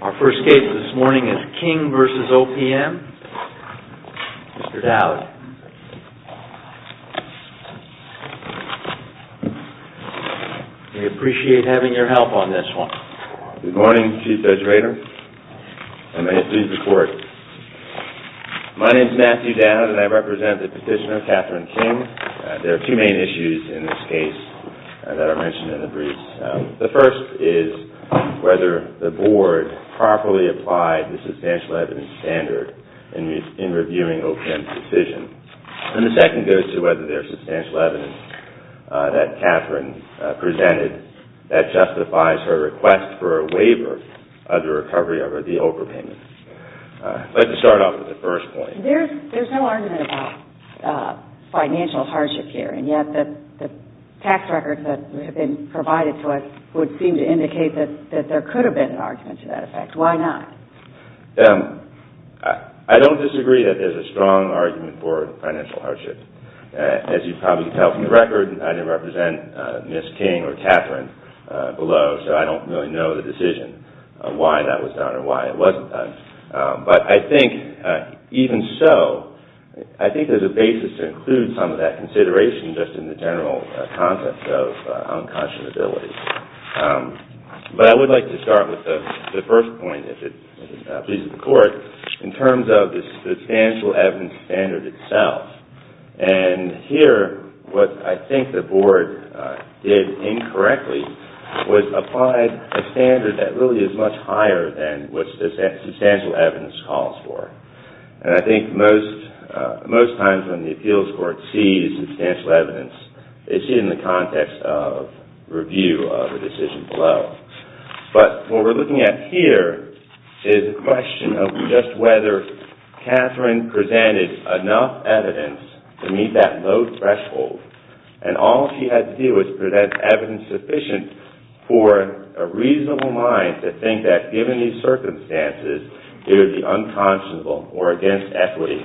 Our first case this morning is King v. OPM. Mr. Dowd, we appreciate having your help on this one. Good morning, Chief Judge Rader. May it please the Court. My name is Matthew Dowd and I represent the petitioner, Catherine King. There are two main issues in this case that are mentioned in the briefs. The first is whether the Board properly applied the substantial evidence standard in reviewing OPM's decision. And the second goes to whether there's substantial evidence that Catherine presented that justifies her request for a waiver of the recovery of the OPR payments. Let's start off with the first point. There's no argument about financial hardship here, and yet the tax records that have been provided to us would seem to indicate that there could have been an argument to that effect. Why not? I don't disagree that there's a strong argument for financial hardship. As you probably can tell from the record, I didn't represent Ms. King or Catherine below, so I don't really know the decision on why that was done or why it wasn't done. But I think even so, I think there's a basis to include some of that consideration just in the general context of unconscionability. But I would like to start with the first point, if it pleases the Court, in terms of the substantial evidence standard itself. And here, what I think the Board did incorrectly was apply a standard that really is much higher than what substantial evidence calls for. And I review the decision below. But what we're looking at here is a question of just whether Catherine presented enough evidence to meet that low threshold, and all she had to do was present evidence sufficient for a reasonable mind to think that, given these circumstances, it would be unconscionable or against equity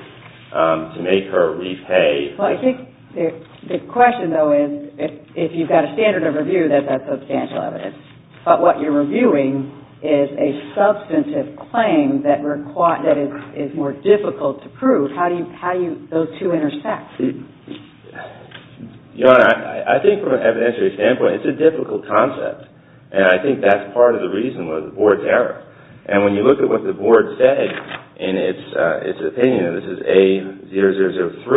to make her repay. Well, I think the question, though, is if you've got a standard of review, then that's substantial evidence. But what you're reviewing is a substantive claim that is more difficult to prove. How do those two intersect? Your Honor, I think from an evidentiary standpoint, it's a difficult concept. And I think that's part of the reason why the Board's error. And when you look at what the Board said in its opinion, and this is A0003,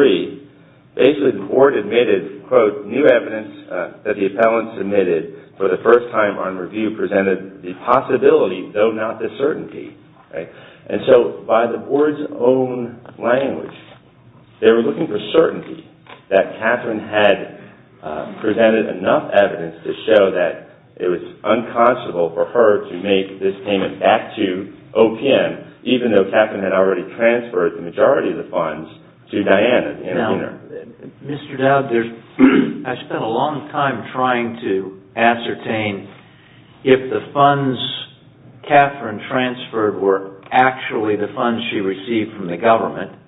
basically the Board admitted, quote, new evidence that the appellant submitted for the first time on review presented the possibility, though not the certainty. And so by the Board's own language, they were looking for certainty that Catherine had presented enough evidence to show that it was unconscionable for her to make this payment back to OPM, even though Catherine had already transferred the majority of the funds to Diana, the intervener. Now, Mr. Dowd, I spent a long time trying to ascertain if the funds Catherine transferred were actually the funds she received from the government,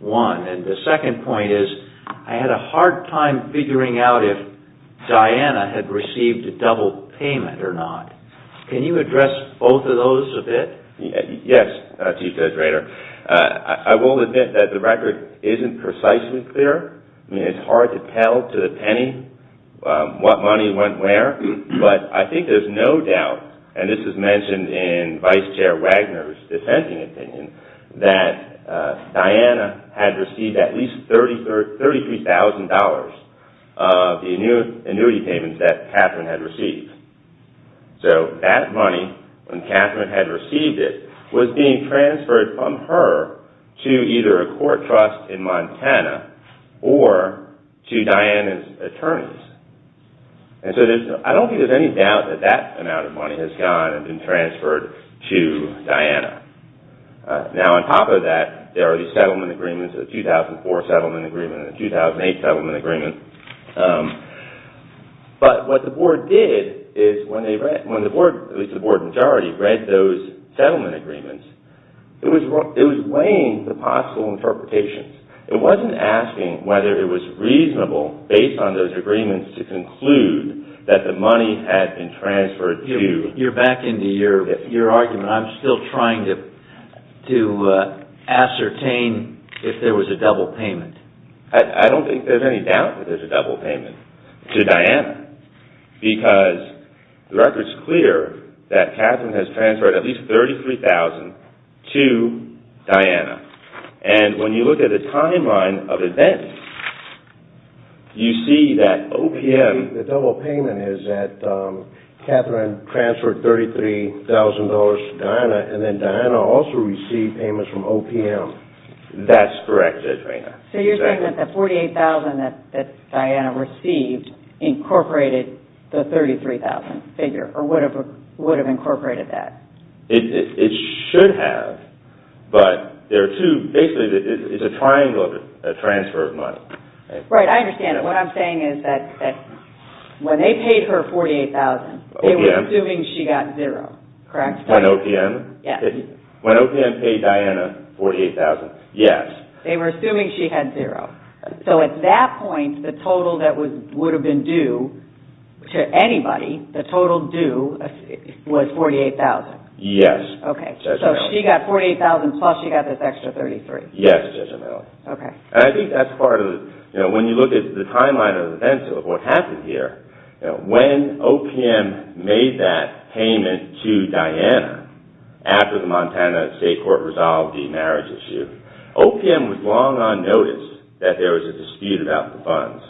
one. And the second point is I had a hard time figuring out if Diana had received a double payment or not. Can you address both of those a bit? Yes, Chief Judge Rader. I will admit that the record isn't precisely clear. I mean, it's hard to tell to the penny what money went where. But I think there's no doubt, and this is mentioned in Vice Chair Wagner's defending opinion, that Diana had received at least $33,000 of the annuity payments that Catherine had received. So that money, I think, when Catherine had received it, was being transferred from her to either a court trust in Montana or to Diana's attorneys. And so I don't think there's any doubt that that amount of money has gone and been transferred to Diana. Now, on top of that, there are these settlement agreements, the 2004 settlement agreement and the 2008 settlement agreement. But what the Board did is when they, at least the Board in majority, read those settlement agreements, it was weighing the possible interpretations. It wasn't asking whether it was reasonable, based on those agreements, to conclude that the money had been transferred to... You're back into your argument. I'm still trying to ascertain if there was a double payment. I don't think there's any doubt that there's a double payment to Diana because the record is clear that Catherine has transferred at least $33,000 to Diana. And when you look at the timeline of events, you see that OPM... The double payment is that Catherine transferred $33,000 to Diana and then Diana also received payments from OPM. That's correct, Adrena. So you're saying that the $48,000 that Diana received incorporated the $33,000 figure, or would have incorporated that? It should have, but there are two... Basically, it's a triangle of a transfer of money. Right. I understand it. What I'm saying is that when they paid her $48,000, they were assuming she got zero. Correct? When OPM? Yes. When OPM paid Diana $48,000? Yes. They were assuming she had zero. So at that point, the total that would have been due to anybody, the total due, was $48,000? Yes. Okay. So she got $48,000 plus she got this extra $33,000. Yes. I think that's part of... When you look at the timeline of events of what happened here, when OPM made that payment to Diana after the Montana State Court resolved the marriage issue, OPM was long on notice that there was a dispute about the funds.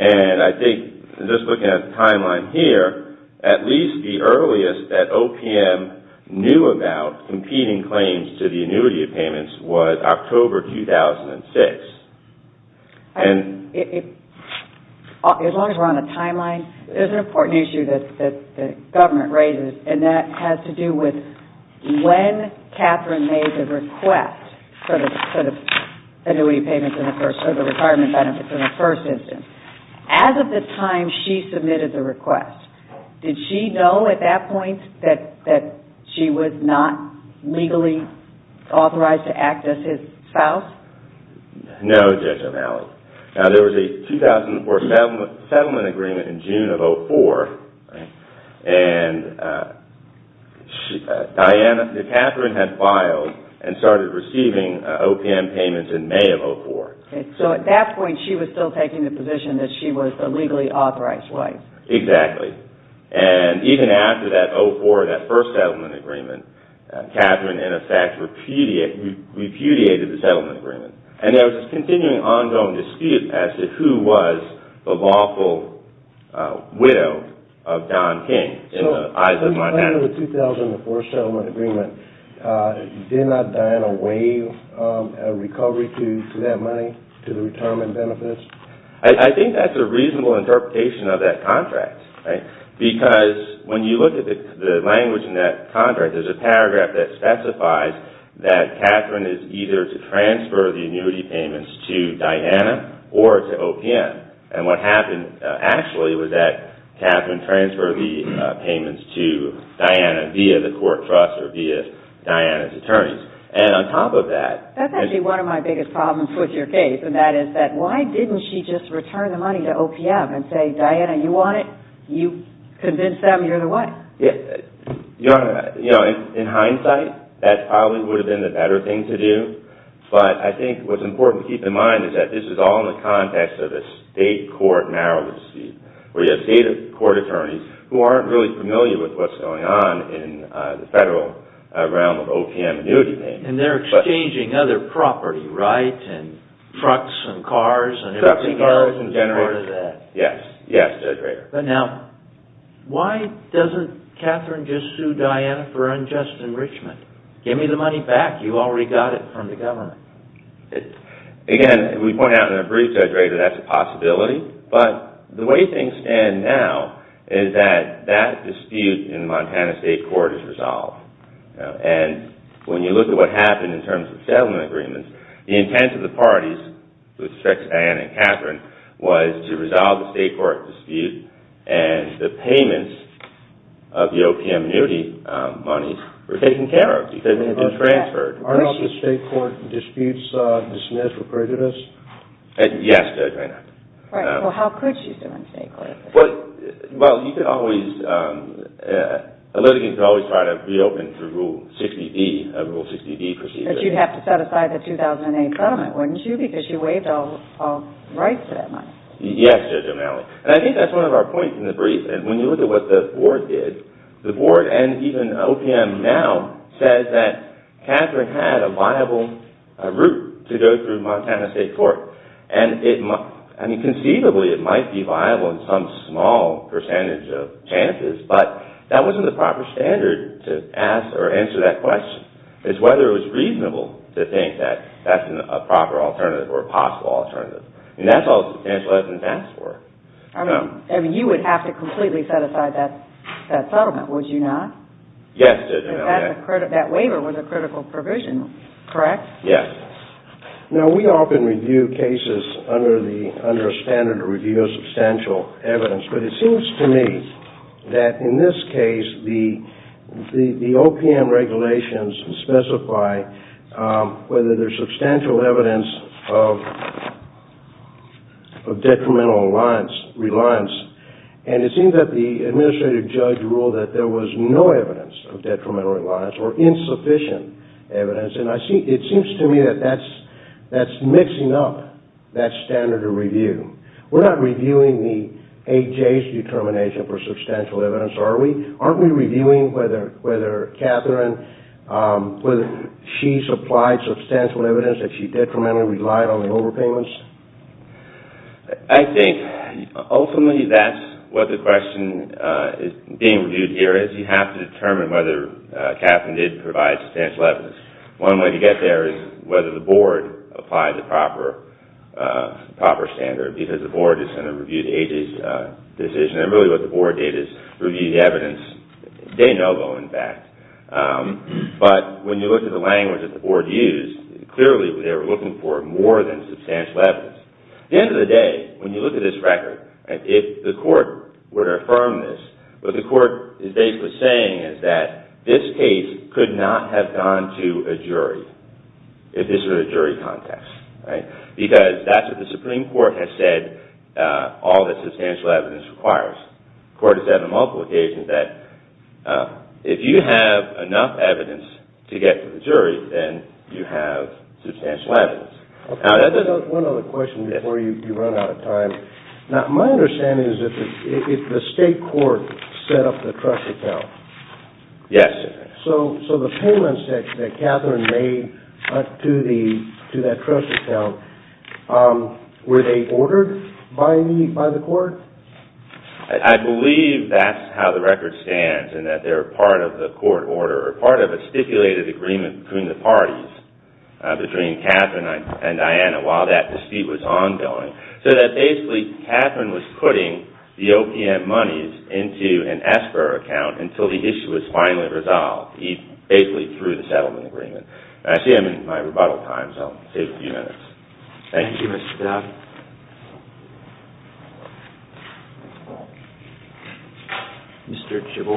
I think just looking at the timeline here, at least the earliest that OPM knew about competing claims to the annuity of payments was October 2006. As long as we're on a timeline, there's an important issue that the government raises, and that has to do with when Catherine made the request for the annuity payments in the first instance. As of the time she submitted the request, did she know at that point that she was not legally authorized to act as his spouse? No, Judge O'Malley. There was a 2004 settlement agreement in June of 2004, and Catherine had filed and started receiving OPM payments in May of 2004. At that point, she was still taking the position that she was a legally authorized wife. Exactly. Even after that 04, that first settlement agreement, Catherine, in effect, repudiated the settlement agreement. There was a continuing ongoing dispute as to who was the lawful widow of Don King in the eyes of Montana. As part of the 2004 settlement agreement, did not Diana waive a recovery to that money to the retirement benefits? I think that's a reasonable interpretation of that contract, because when you look at the language in that contract, there's a paragraph that specifies that Catherine is either to transfer the annuity payments to Diana or to OPM. What happened, actually, was that Catherine transferred the payments to Diana via the court trust or via Diana's attorneys. On top of that... That's actually one of my biggest problems with your case, and that is that why didn't she just return the money to OPM and say, Diana, you want it? You convinced them you're the wife. Your Honor, in hindsight, that probably would have been the better thing to do, but I think what's important to keep in mind is that this is all in the context of a state court narrow dispute, where you have state court attorneys who aren't really familiar with what's going on in the federal realm of OPM annuity payments. They're exchanging other property, right? Trucks and cars and everything else is a part of that. Yes. Yes, Judge Rader. Now, why doesn't Catherine just sue Diana for unjust enrichment? Give me the money back. You already got it from the government. Again, we point out in a brief, Judge Rader, that's a possibility, but the way things stand now is that that dispute in the Montana State Court is resolved. When you look at what happened in terms of settlement agreements, the intent of the parties with respect to Diana and Catherine was to resolve the state court dispute and the payments of the OPM annuity money were taken care of because it had been transferred. Aren't all the state court disputes dismissed or credited us? Yes, Judge Rader. Right. Well, how could she sue in a state court? Well, you could always... A litigant could always try to reopen through Rule 60B, a Rule 60B procedure. But you'd have to set aside the 2008 settlement, wouldn't you? Because you waived all rights to that money. Yes, Judge O'Malley. And I think that's one of our points in the brief, and when you look at what the board did, the board and even OPM now says that Catherine had a viable route to go through Montana State Court. And conceivably, it might be viable in some small percentage of chances, but that wasn't the proper standard to ask or answer that question. It's whether it was reasonable to think that that's a proper alternative or a possible alternative. And that's all substantial evidence asked for. I mean, you would have to completely set aside that settlement, would you not? Yes, Judge O'Malley. Because that waiver was a critical provision, correct? Yes. Now, we often review cases under a standard to review a substantial evidence, but it seems to me that in this case, the OPM regulations specify whether there's substantial evidence of detrimental reliance. And it seems that the administrative judge ruled that there was no evidence of detrimental reliance or insufficient evidence. And it seems to me that that's mixing up that standard of review. We're not reviewing the AJ's determination for substantial evidence, are we? Aren't we reviewing whether Catherine, whether she supplied substantial evidence that she detrimentally relied on the overpayments? I think, ultimately, that's what the question being reviewed here is. You have to determine whether Catherine did provide substantial evidence. One way to get there is whether the board applied the proper standard, because the board is going to review the AJ's decision. And really what the board did is review the evidence, de novo, in fact. But when you look at the language that the board used, clearly they were looking for more than substantial evidence. At the end of the day, when you look at this record, if the court were to affirm this, what the court is basically saying is that this case could not have gone to a jury if this were a jury context. Because that's what the Supreme Court has said all that substantial evidence requires. The court has said on multiple occasions that if you have enough evidence to get to the jury, then you have substantial evidence. One other question before you run out of time. My understanding is that the state court set up the trust account. Yes. So the payments that Catherine made to that trust account, were they ordered by the court? I believe that's how the record stands, in that they were part of the court order, or part of a stipulated agreement between the parties, between Catherine and Diana, while that dispute was ongoing. So that basically, Catherine was putting the OPM monies into an SBIR account until the issue was finally resolved, basically through the settlement agreement. I see I'm in my rebuttal time, so I'll save a few minutes. Thank you, Mr. Dodd. Thank you, Mr. Dodd. Mr. Jabbour?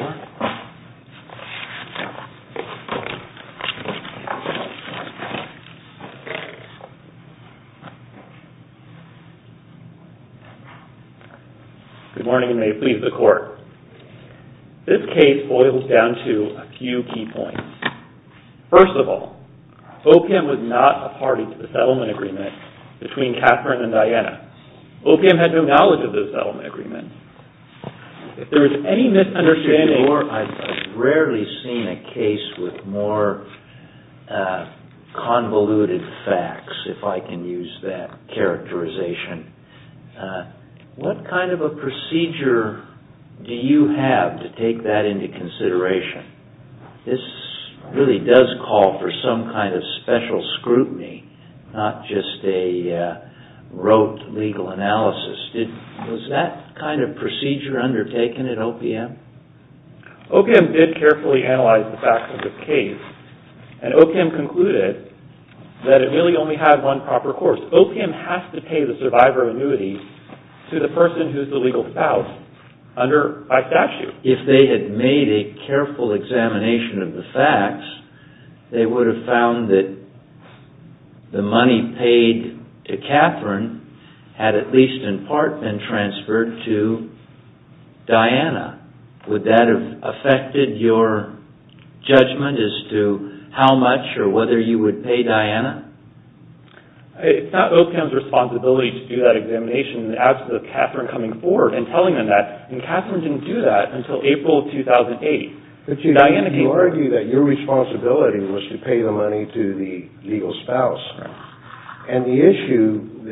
Good morning, and may it please the court. This case boils down to a few key points. First of all, OPM was not a party to the settlement agreement between Catherine and Diana. OPM had no knowledge of the settlement agreement. If there is any misunderstanding... Mr. Jabbour, I've rarely seen a case with more convoluted facts, if I can use that characterization. What kind of a procedure do you have to take that into consideration? This really does call for some kind of special scrutiny, not just a rote legal analysis. Was that kind of procedure undertaken at OPM? OPM did carefully analyze the facts of the case, and OPM concluded that it really only had one proper course. OPM has to pay the survivor annuities to the person who's the legal spouse under by statute. If they had made a careful examination of the facts, they would have found that the money paid to Catherine had at least in part been transferred to Diana. Would that have affected your judgment as to how much or whether you would pay Diana? It's not OPM's responsibility to do that examination. As to Catherine coming forward and telling them that, Catherine didn't do that until April of 2008. But you argue that your responsibility was to pay the money to the legal spouse. And the issue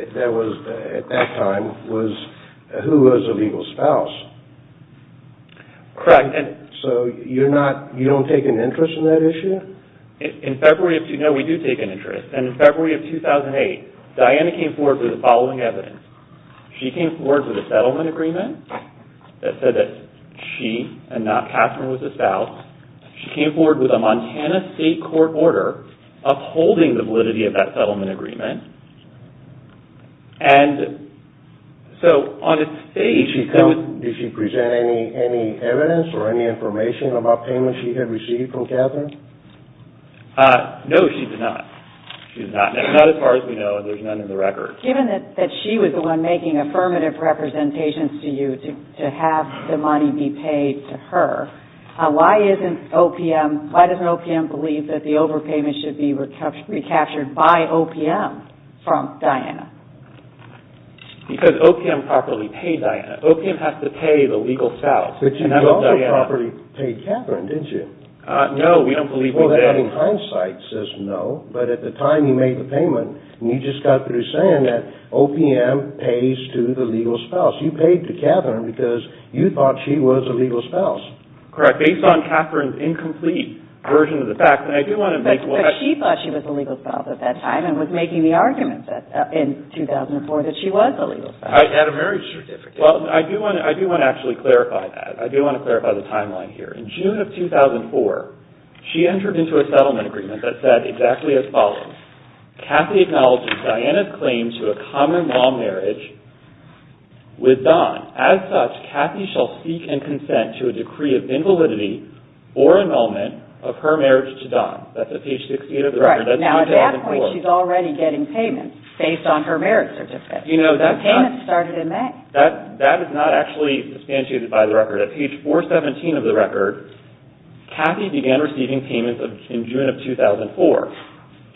at that time was who was the legal spouse. Correct. So you don't take an interest in that issue? No, we do take an interest. In February of 2008, Diana came forward with the following evidence. She came forward with a settlement agreement that said that she and not Catherine was the spouse. She came forward with a Montana state court order upholding the validity of that settlement agreement. Did she present any evidence or any information about payment she had received from Catherine? No, she did not. She did not. Not as far as we know. There's none in the record. Given that she was the one making affirmative representations to you to have the money be paid to her, why doesn't OPM believe that the overpayment should be recaptured by OPM from Diana? Because OPM properly paid Diana. OPM has to pay the legal spouse. But you also properly paid Catherine, didn't you? No, we don't believe we did. Well, that in hindsight says no, but at the time you made the payment, and you just got through saying that OPM pays to the legal spouse. You paid to Catherine because you thought she was a legal spouse. Correct. Based on Catherine's incomplete version of the facts, and I do want to make... But she thought she was a legal spouse at that time, and was making the argument in 2004 that she was a legal spouse. I had a marriage certificate. Well, I do want to actually clarify that. I do want to clarify the timeline here. In June of 2004, she entered into a settlement agreement that said exactly as follows. Cathy acknowledges Diana's claim to a common-law marriage with Don. As such, Cathy shall seek and consent to a decree of invalidity or annulment of her marriage to Don. That's at page 68 of the record. Right. Now, at that point, she's already getting payments based on her marriage certificate. You know, that's not... The payment started in May. That is not actually substantiated by the record. At page 417 of the record, Cathy began receiving payments in June of 2004.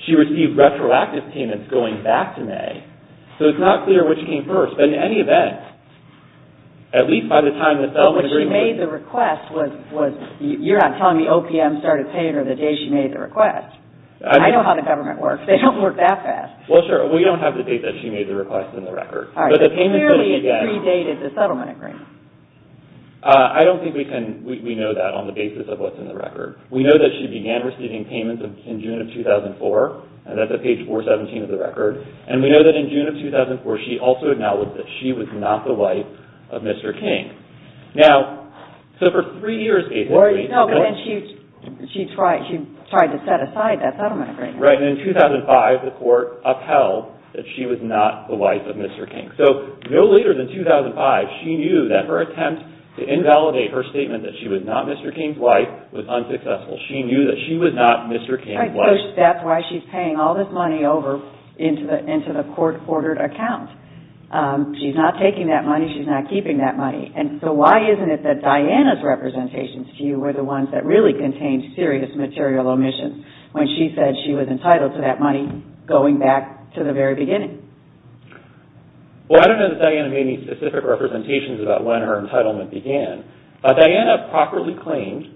She received retroactive payments going back to May. So it's not clear which came first. But in any event, at least by the time the settlement agreement... But what she made the request was... You're not telling me OPM started paying her the day she made the request. I know how the government works. They don't work that fast. Well, sure. We don't have the date that she made the request in the record. All right. Clearly, it predated the settlement agreement. I don't think we can... We know that on the basis of what's in the record. We know that she began receiving payments in June of 2004. And that's at page 417 of the record. And we know that in June of 2004, she also acknowledged that she was not the wife of Mr. King. Now, so for three years, Cathy... No, but then she tried to set aside that settlement agreement. Right. And in 2005, the court upheld that she was not the wife of Mr. King. So no later than 2005, she knew that her attempt to invalidate her statement that she was not Mr. King's wife was unsuccessful. She knew that she was not Mr. King's wife. Right. So that's why she's paying all this money over into the court-ordered account. She's not taking that money. She's not keeping that money. And so why isn't it that Diana's representations to you were the ones that really contained serious material omissions when she said she was entitled to that money going back to the very beginning? Well, I don't know that Diana made any specific representations about when her entitlement began. Diana properly claimed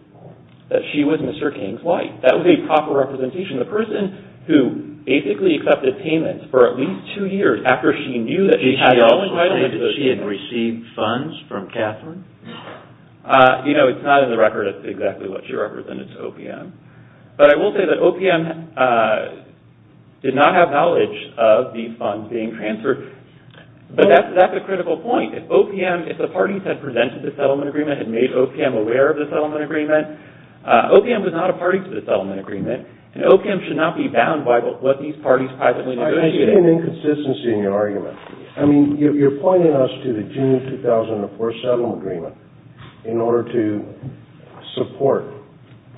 that she was Mr. King's wife. That was a proper representation. The person who basically accepted payments for at least two years after she knew that she had... Did she also claim that she had received funds from Catherine? You know, it's not in the record that's exactly what she represented to OPM. But I will say that OPM did not have knowledge of the funds being transferred. But that's a critical point. If OPM, if the parties that presented the settlement agreement had made OPM aware of the settlement agreement, OPM was not a party to the settlement agreement. And OPM should not be bound by what these parties privately negotiated. I see an inconsistency in your argument. I mean, you're pointing us to the June 2004 settlement agreement in order to support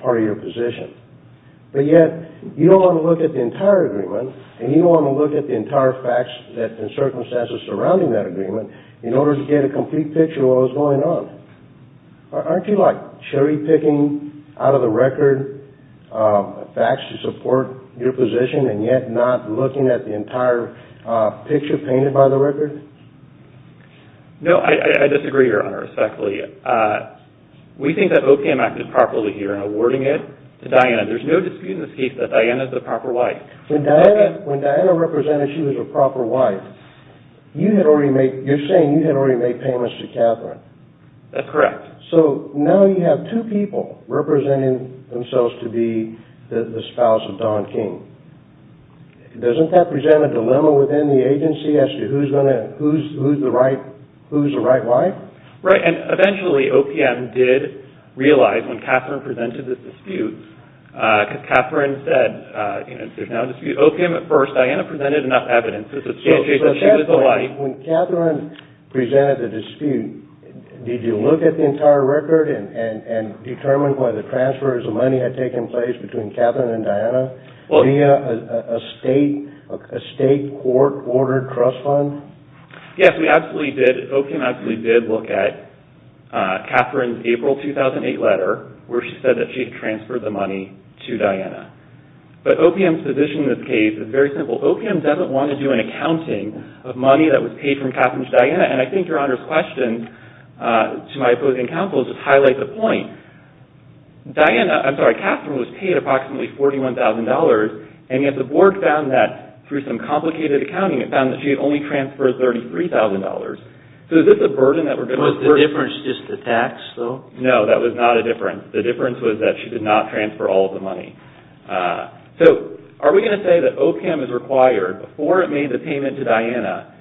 part of your position. But yet, you don't want to look at the entire agreement and you don't want to look at the entire facts and circumstances surrounding that agreement in order to get a complete picture of what was going on. Aren't you, like, cherry-picking out of the record facts to support your position and yet not looking at the entire picture painted by the record? No, I disagree, Your Honor, respectfully. We think that OPM acted properly here in awarding it to Diana. There's no dispute in this case that Diana's the proper wife. When Diana represented she was a proper wife, you're saying you had already made payments to Catherine. That's correct. So now you have two people representing themselves to be the spouse of Don King. Doesn't that present a dilemma within the agency as to who's the right wife? Right, and eventually OPM did realize when Catherine presented this dispute, because Catherine said, you know, there's no dispute. OPM at first, Diana presented enough evidence to substantiate that she was the wife. When Catherine presented the dispute, did you look at the entire record and determine whether transfers of money had taken place between Catherine and Diana via a state court-ordered trust fund? Yes, we absolutely did. OPM absolutely did look at Catherine's April 2008 letter where she said that she had transferred the money to Diana. But OPM's position in this case is very simple. OPM doesn't want to do an accounting of money that was paid from Catherine to Diana. And I think Your Honor's question to my opposing counsel just highlights a point. Diana, I'm sorry, Catherine was paid approximately $41,000 and yet the board found that through some complicated accounting it found that she had only transferred $33,000. So is this a burden that we're going to... Was the difference just the tax though? No, that was not a difference. The difference was that she did not transfer all of the money. So are we going to say that OPM is required, before it made the payment to Diana,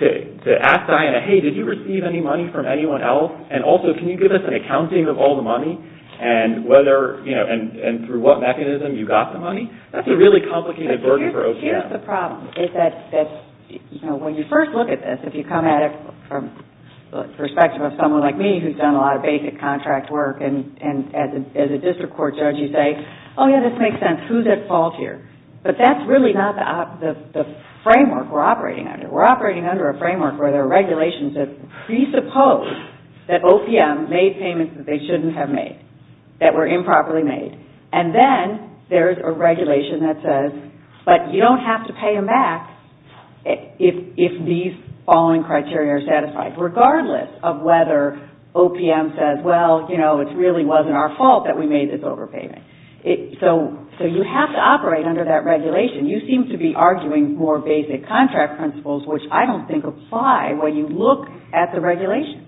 to ask Diana, hey, did you receive any money from anyone else? And also, can you give us an accounting of all the money? And through what mechanism you got the money? That's a really complicated burden for OPM. Here's the problem. When you first look at this, if you come at it from the perspective of someone like me who's done a lot of basic contract work and as a district court judge you say, oh yeah, this makes sense, who's at fault here? But that's really not the framework we're operating under. We're operating under a framework where there are regulations that presuppose that OPM made payments that they shouldn't have made, that were improperly made. And then there's a regulation that says, regardless of whether OPM says, well, you know, it really wasn't our fault that we made this overpayment. So you have to operate under that regulation. You seem to be arguing more basic contract principles, which I don't think apply when you look at the regulations.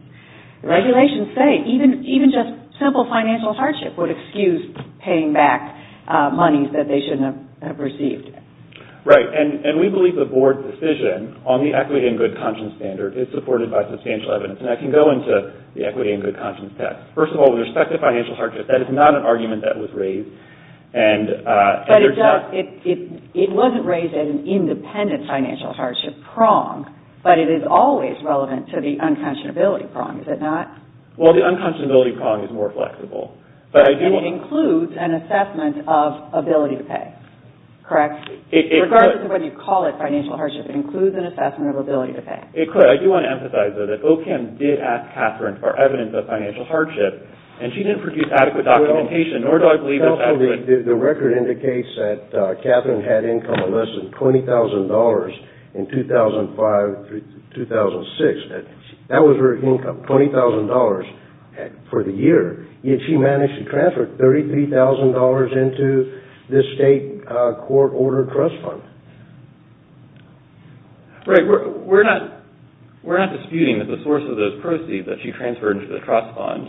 The regulations say even just simple financial hardship would excuse paying back money that they shouldn't have received. Right. And we believe the board decision on the equity and good conscience standard is supported by substantial evidence. And I can go into the equity and good conscience text. First of all, with respect to financial hardship, that is not an argument that was raised. But it wasn't raised at an independent financial hardship prong, but it is always relevant to the unconscionability prong, is it not? Well, the unconscionability prong is more flexible. But it includes an assessment of ability to pay, correct? It could. Regardless of whether you call it financial hardship, it includes an assessment of ability to pay. It could. I do want to emphasize, though, that OCAM did ask Catherine for evidence of financial hardship, and she didn't produce adequate documentation, nor do I believe it's accurate. The record indicates that Catherine had income of less than $20,000 in 2005-2006. That was her income, $20,000 for the year, yet she managed to transfer $33,000 into this state court-ordered trust fund. Right. We're not disputing that the source of those proceeds that she transferred into the trust fund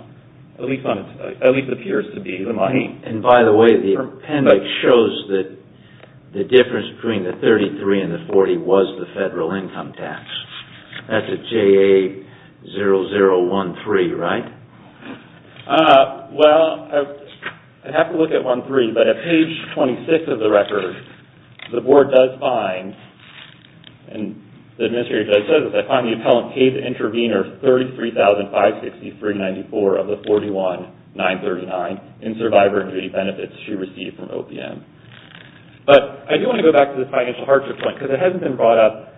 at least appears to be the money. And by the way, the appendix shows that the difference between the $33,000 and the $40,000 was the federal income tax. That's at JA0013, right? Well, I'd have to look at 13, but at page 26 of the record, the board does find, and the administrative judge says this, I find the appellant paid the intervenor $33,563.94 of the $41,939 in survivor injury benefits she received from OPM. But I do want to go back to the financial hardship point, because it hasn't been brought up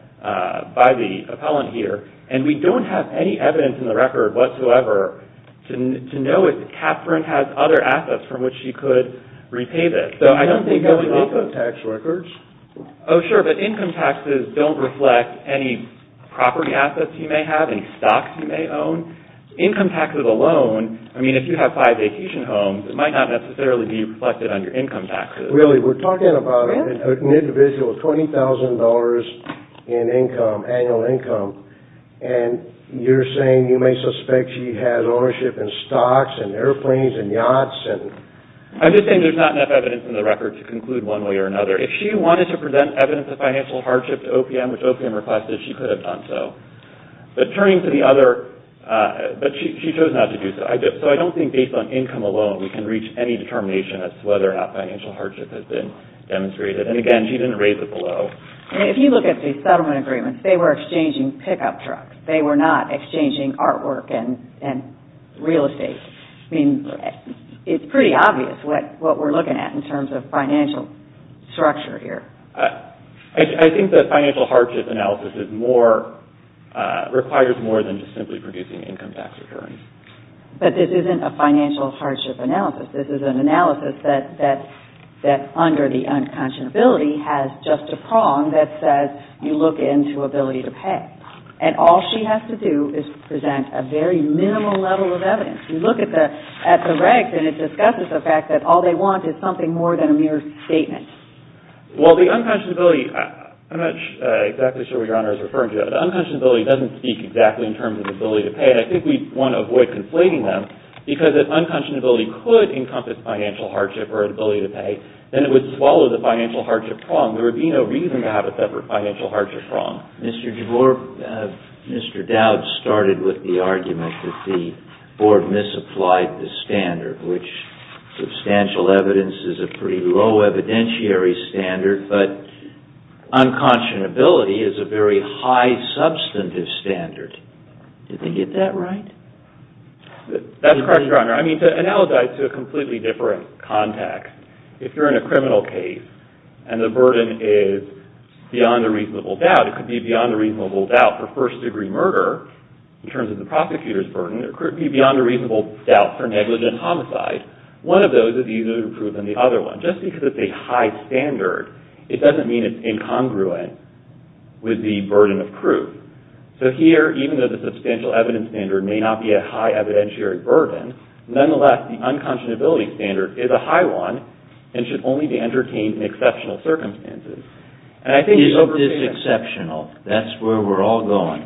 by the appellant here, and we don't have any evidence in the record whatsoever to know if Catherine has other assets from which she could repay this. We have the income tax records. Oh, sure, but income taxes don't reflect any property assets you may have, any stocks you may own. Income taxes alone, I mean, if you have five vacation homes, it might not necessarily be reflected on your income taxes. Really, we're talking about an individual with $20,000 in income, annual income, and you're saying you may suspect she has ownership in stocks and airplanes and yachts. I'm just saying there's not enough evidence in the record to conclude one way or another. If she wanted to present evidence of financial hardship to OPM, which OPM requested, she could have done so. But turning to the other, but she chose not to do so. So I don't think based on income alone we can reach any determination as to whether or not financial hardship has been demonstrated. And, again, she didn't raise it below. If you look at the settlement agreements, they were exchanging pickup trucks. They were not exchanging artwork and real estate. I mean, it's pretty obvious what we're looking at in terms of financial structure here. I think the financial hardship analysis requires more than just simply producing income tax returns. But this isn't a financial hardship analysis. This is an analysis that under the unconscionability has just a prong that says you look into ability to pay. And all she has to do is present a very minimal level of evidence. You look at the regs and it discusses the fact that all they want is something more than a mere statement. Well, the unconscionability, I'm not exactly sure what Your Honor is referring to, but the unconscionability doesn't speak exactly in terms of ability to pay. And I think we want to avoid conflating them because if unconscionability could encompass financial hardship or ability to pay, then it would swallow the financial hardship prong. There would be no reason to have a separate financial hardship prong. Mr. Doud started with the argument that the Board misapplied the standard, which substantial evidence is a pretty low evidentiary standard, but unconscionability is a very high substantive standard. Do they get that right? That's correct, Your Honor. I mean, to analogize to a completely different context, if you're in a criminal case and the burden is beyond a reasonable doubt, it could be beyond a reasonable doubt for first-degree murder in terms of the prosecutor's burden. It could be beyond a reasonable doubt for negligent homicide. One of those is easier to prove than the other one. Just because it's a high standard, it doesn't mean it's incongruent with the burden of proof. So here, even though the substantial evidence standard may not be a high evidentiary burden, nonetheless, the unconscionability standard is a high one and should only be entertained in exceptional circumstances. It is exceptional. That's where we're all going.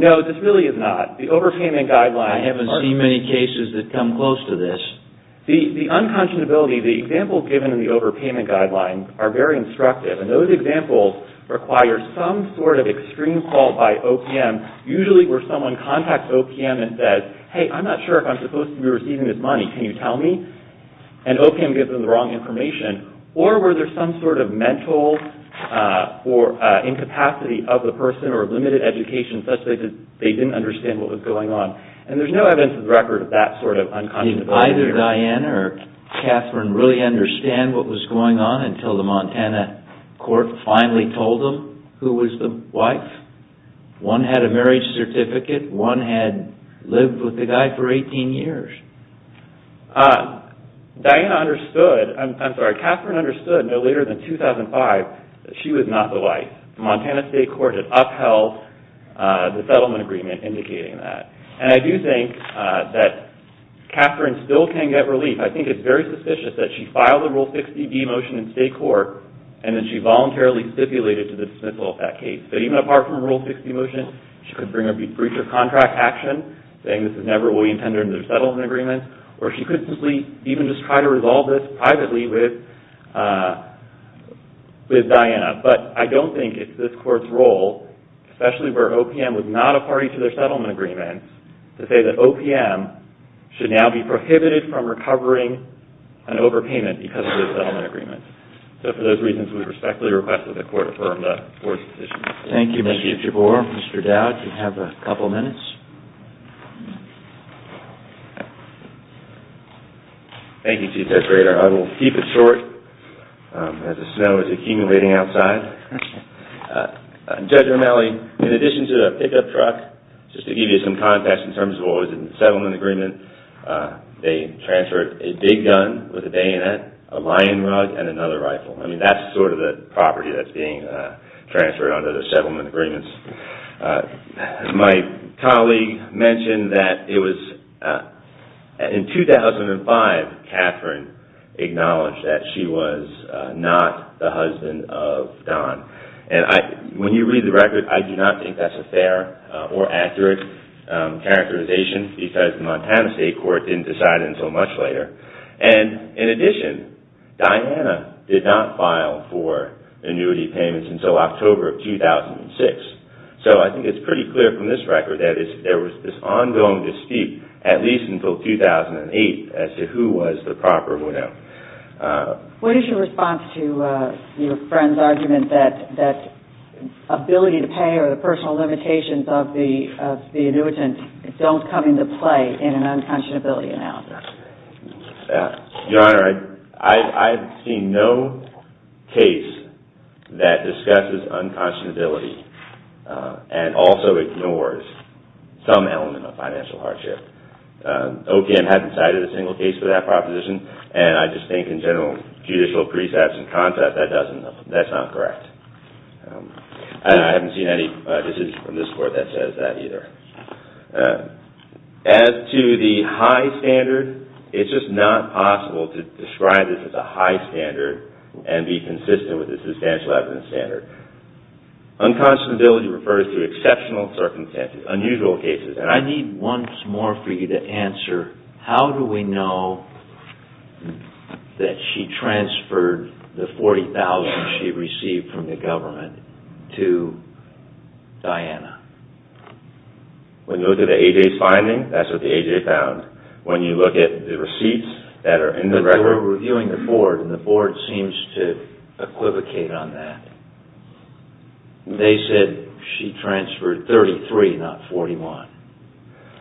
No, this really is not. I haven't seen many cases that come close to this. The unconscionability, the examples given in the overpayment guidelines are very instructive, and those examples require some sort of extreme fault by OPM. Usually where someone contacts OPM and says, hey, I'm not sure if I'm supposed to be receiving this money, can you tell me? And OPM gives them the wrong information. Or were there some sort of mental or incapacity of the person or limited education such that they didn't understand what was going on? And there's no evidence to the record of that sort of unconscionability. Did either Diana or Catherine really understand what was going on until the Montana court finally told them who was the wife? One had a marriage certificate. One had lived with the guy for 18 years. Diana understood. I'm sorry, Catherine understood no later than 2005 that she was not the wife. Montana State Court had upheld the settlement agreement indicating that. And I do think that Catherine still can get relief. I think it's very suspicious that she filed a Rule 60d motion in state court and then she voluntarily stipulated to dismissal of that case. But even apart from Rule 60 motion, she could bring a breach of contract action, saying this is never what we intended under the settlement agreement, or she could simply even just try to resolve this privately with Diana. But I don't think it's this court's role, especially where OPM was not a party to their settlement agreement, to say that OPM should now be prohibited from recovering an overpayment because of their settlement agreement. So for those reasons, we respectfully request that the court affirm the court's decision. Thank you, Mr. Jabbour. Mr. Dowd, you have a couple minutes. Thank you, Chief Justice Brader. I will keep it short as the snow is accumulating outside. Judge Romali, in addition to the pickup truck, just to give you some context in terms of what was in the settlement agreement, they transferred a big gun with a bayonet, a lion rug, and another rifle. I mean, that's sort of the property that's being transferred under the settlement agreements. My colleague mentioned that it was in 2005, when Diane Catherine acknowledged that she was not the husband of Don. And when you read the record, I do not think that's a fair or accurate characterization because the Montana State Court didn't decide it until much later. And in addition, Diana did not file for annuity payments until October of 2006. So I think it's pretty clear from this record that there was this ongoing dispute, at least until 2008, as to who was the proper widow. What is your response to your friend's argument that ability to pay or the personal limitations of the annuitant don't come into play in an unconscionability analysis? Your Honor, I've seen no case that discusses unconscionability and also ignores some element of financial hardship. OPM hasn't cited a single case for that proposition, and I just think in general judicial precepts and concepts, that's not correct. And I haven't seen any decision from this Court that says that either. As to the high standard, it's just not possible to describe this as a high standard and be consistent with the substantial evidence standard. Unconscionability refers to exceptional circumstances, unusual cases. And I need once more for you to answer, how do we know that she transferred the $40,000 she received from the government to Diana? When you look at the A.J.'s finding, that's what the A.J. found. When you look at the receipts that are in the record... The A.J. seems to equivocate on that. They said she transferred $33,000, not $41,000.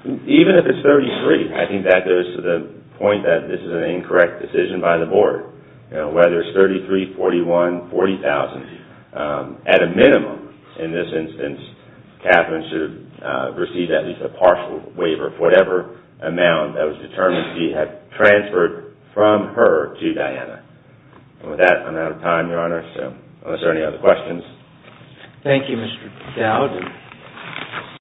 Even if it's $33,000, I think that goes to the point that this is an incorrect decision by the Board. Whether it's $33,000, $41,000, $40,000, at a minimum in this instance, Katherine should have received at least a partial waiver for whatever amount that was determined she had transferred from her to Diana. With that, I'm out of time, Your Honor, unless there are any other questions. Thank you, Mr. Dowd.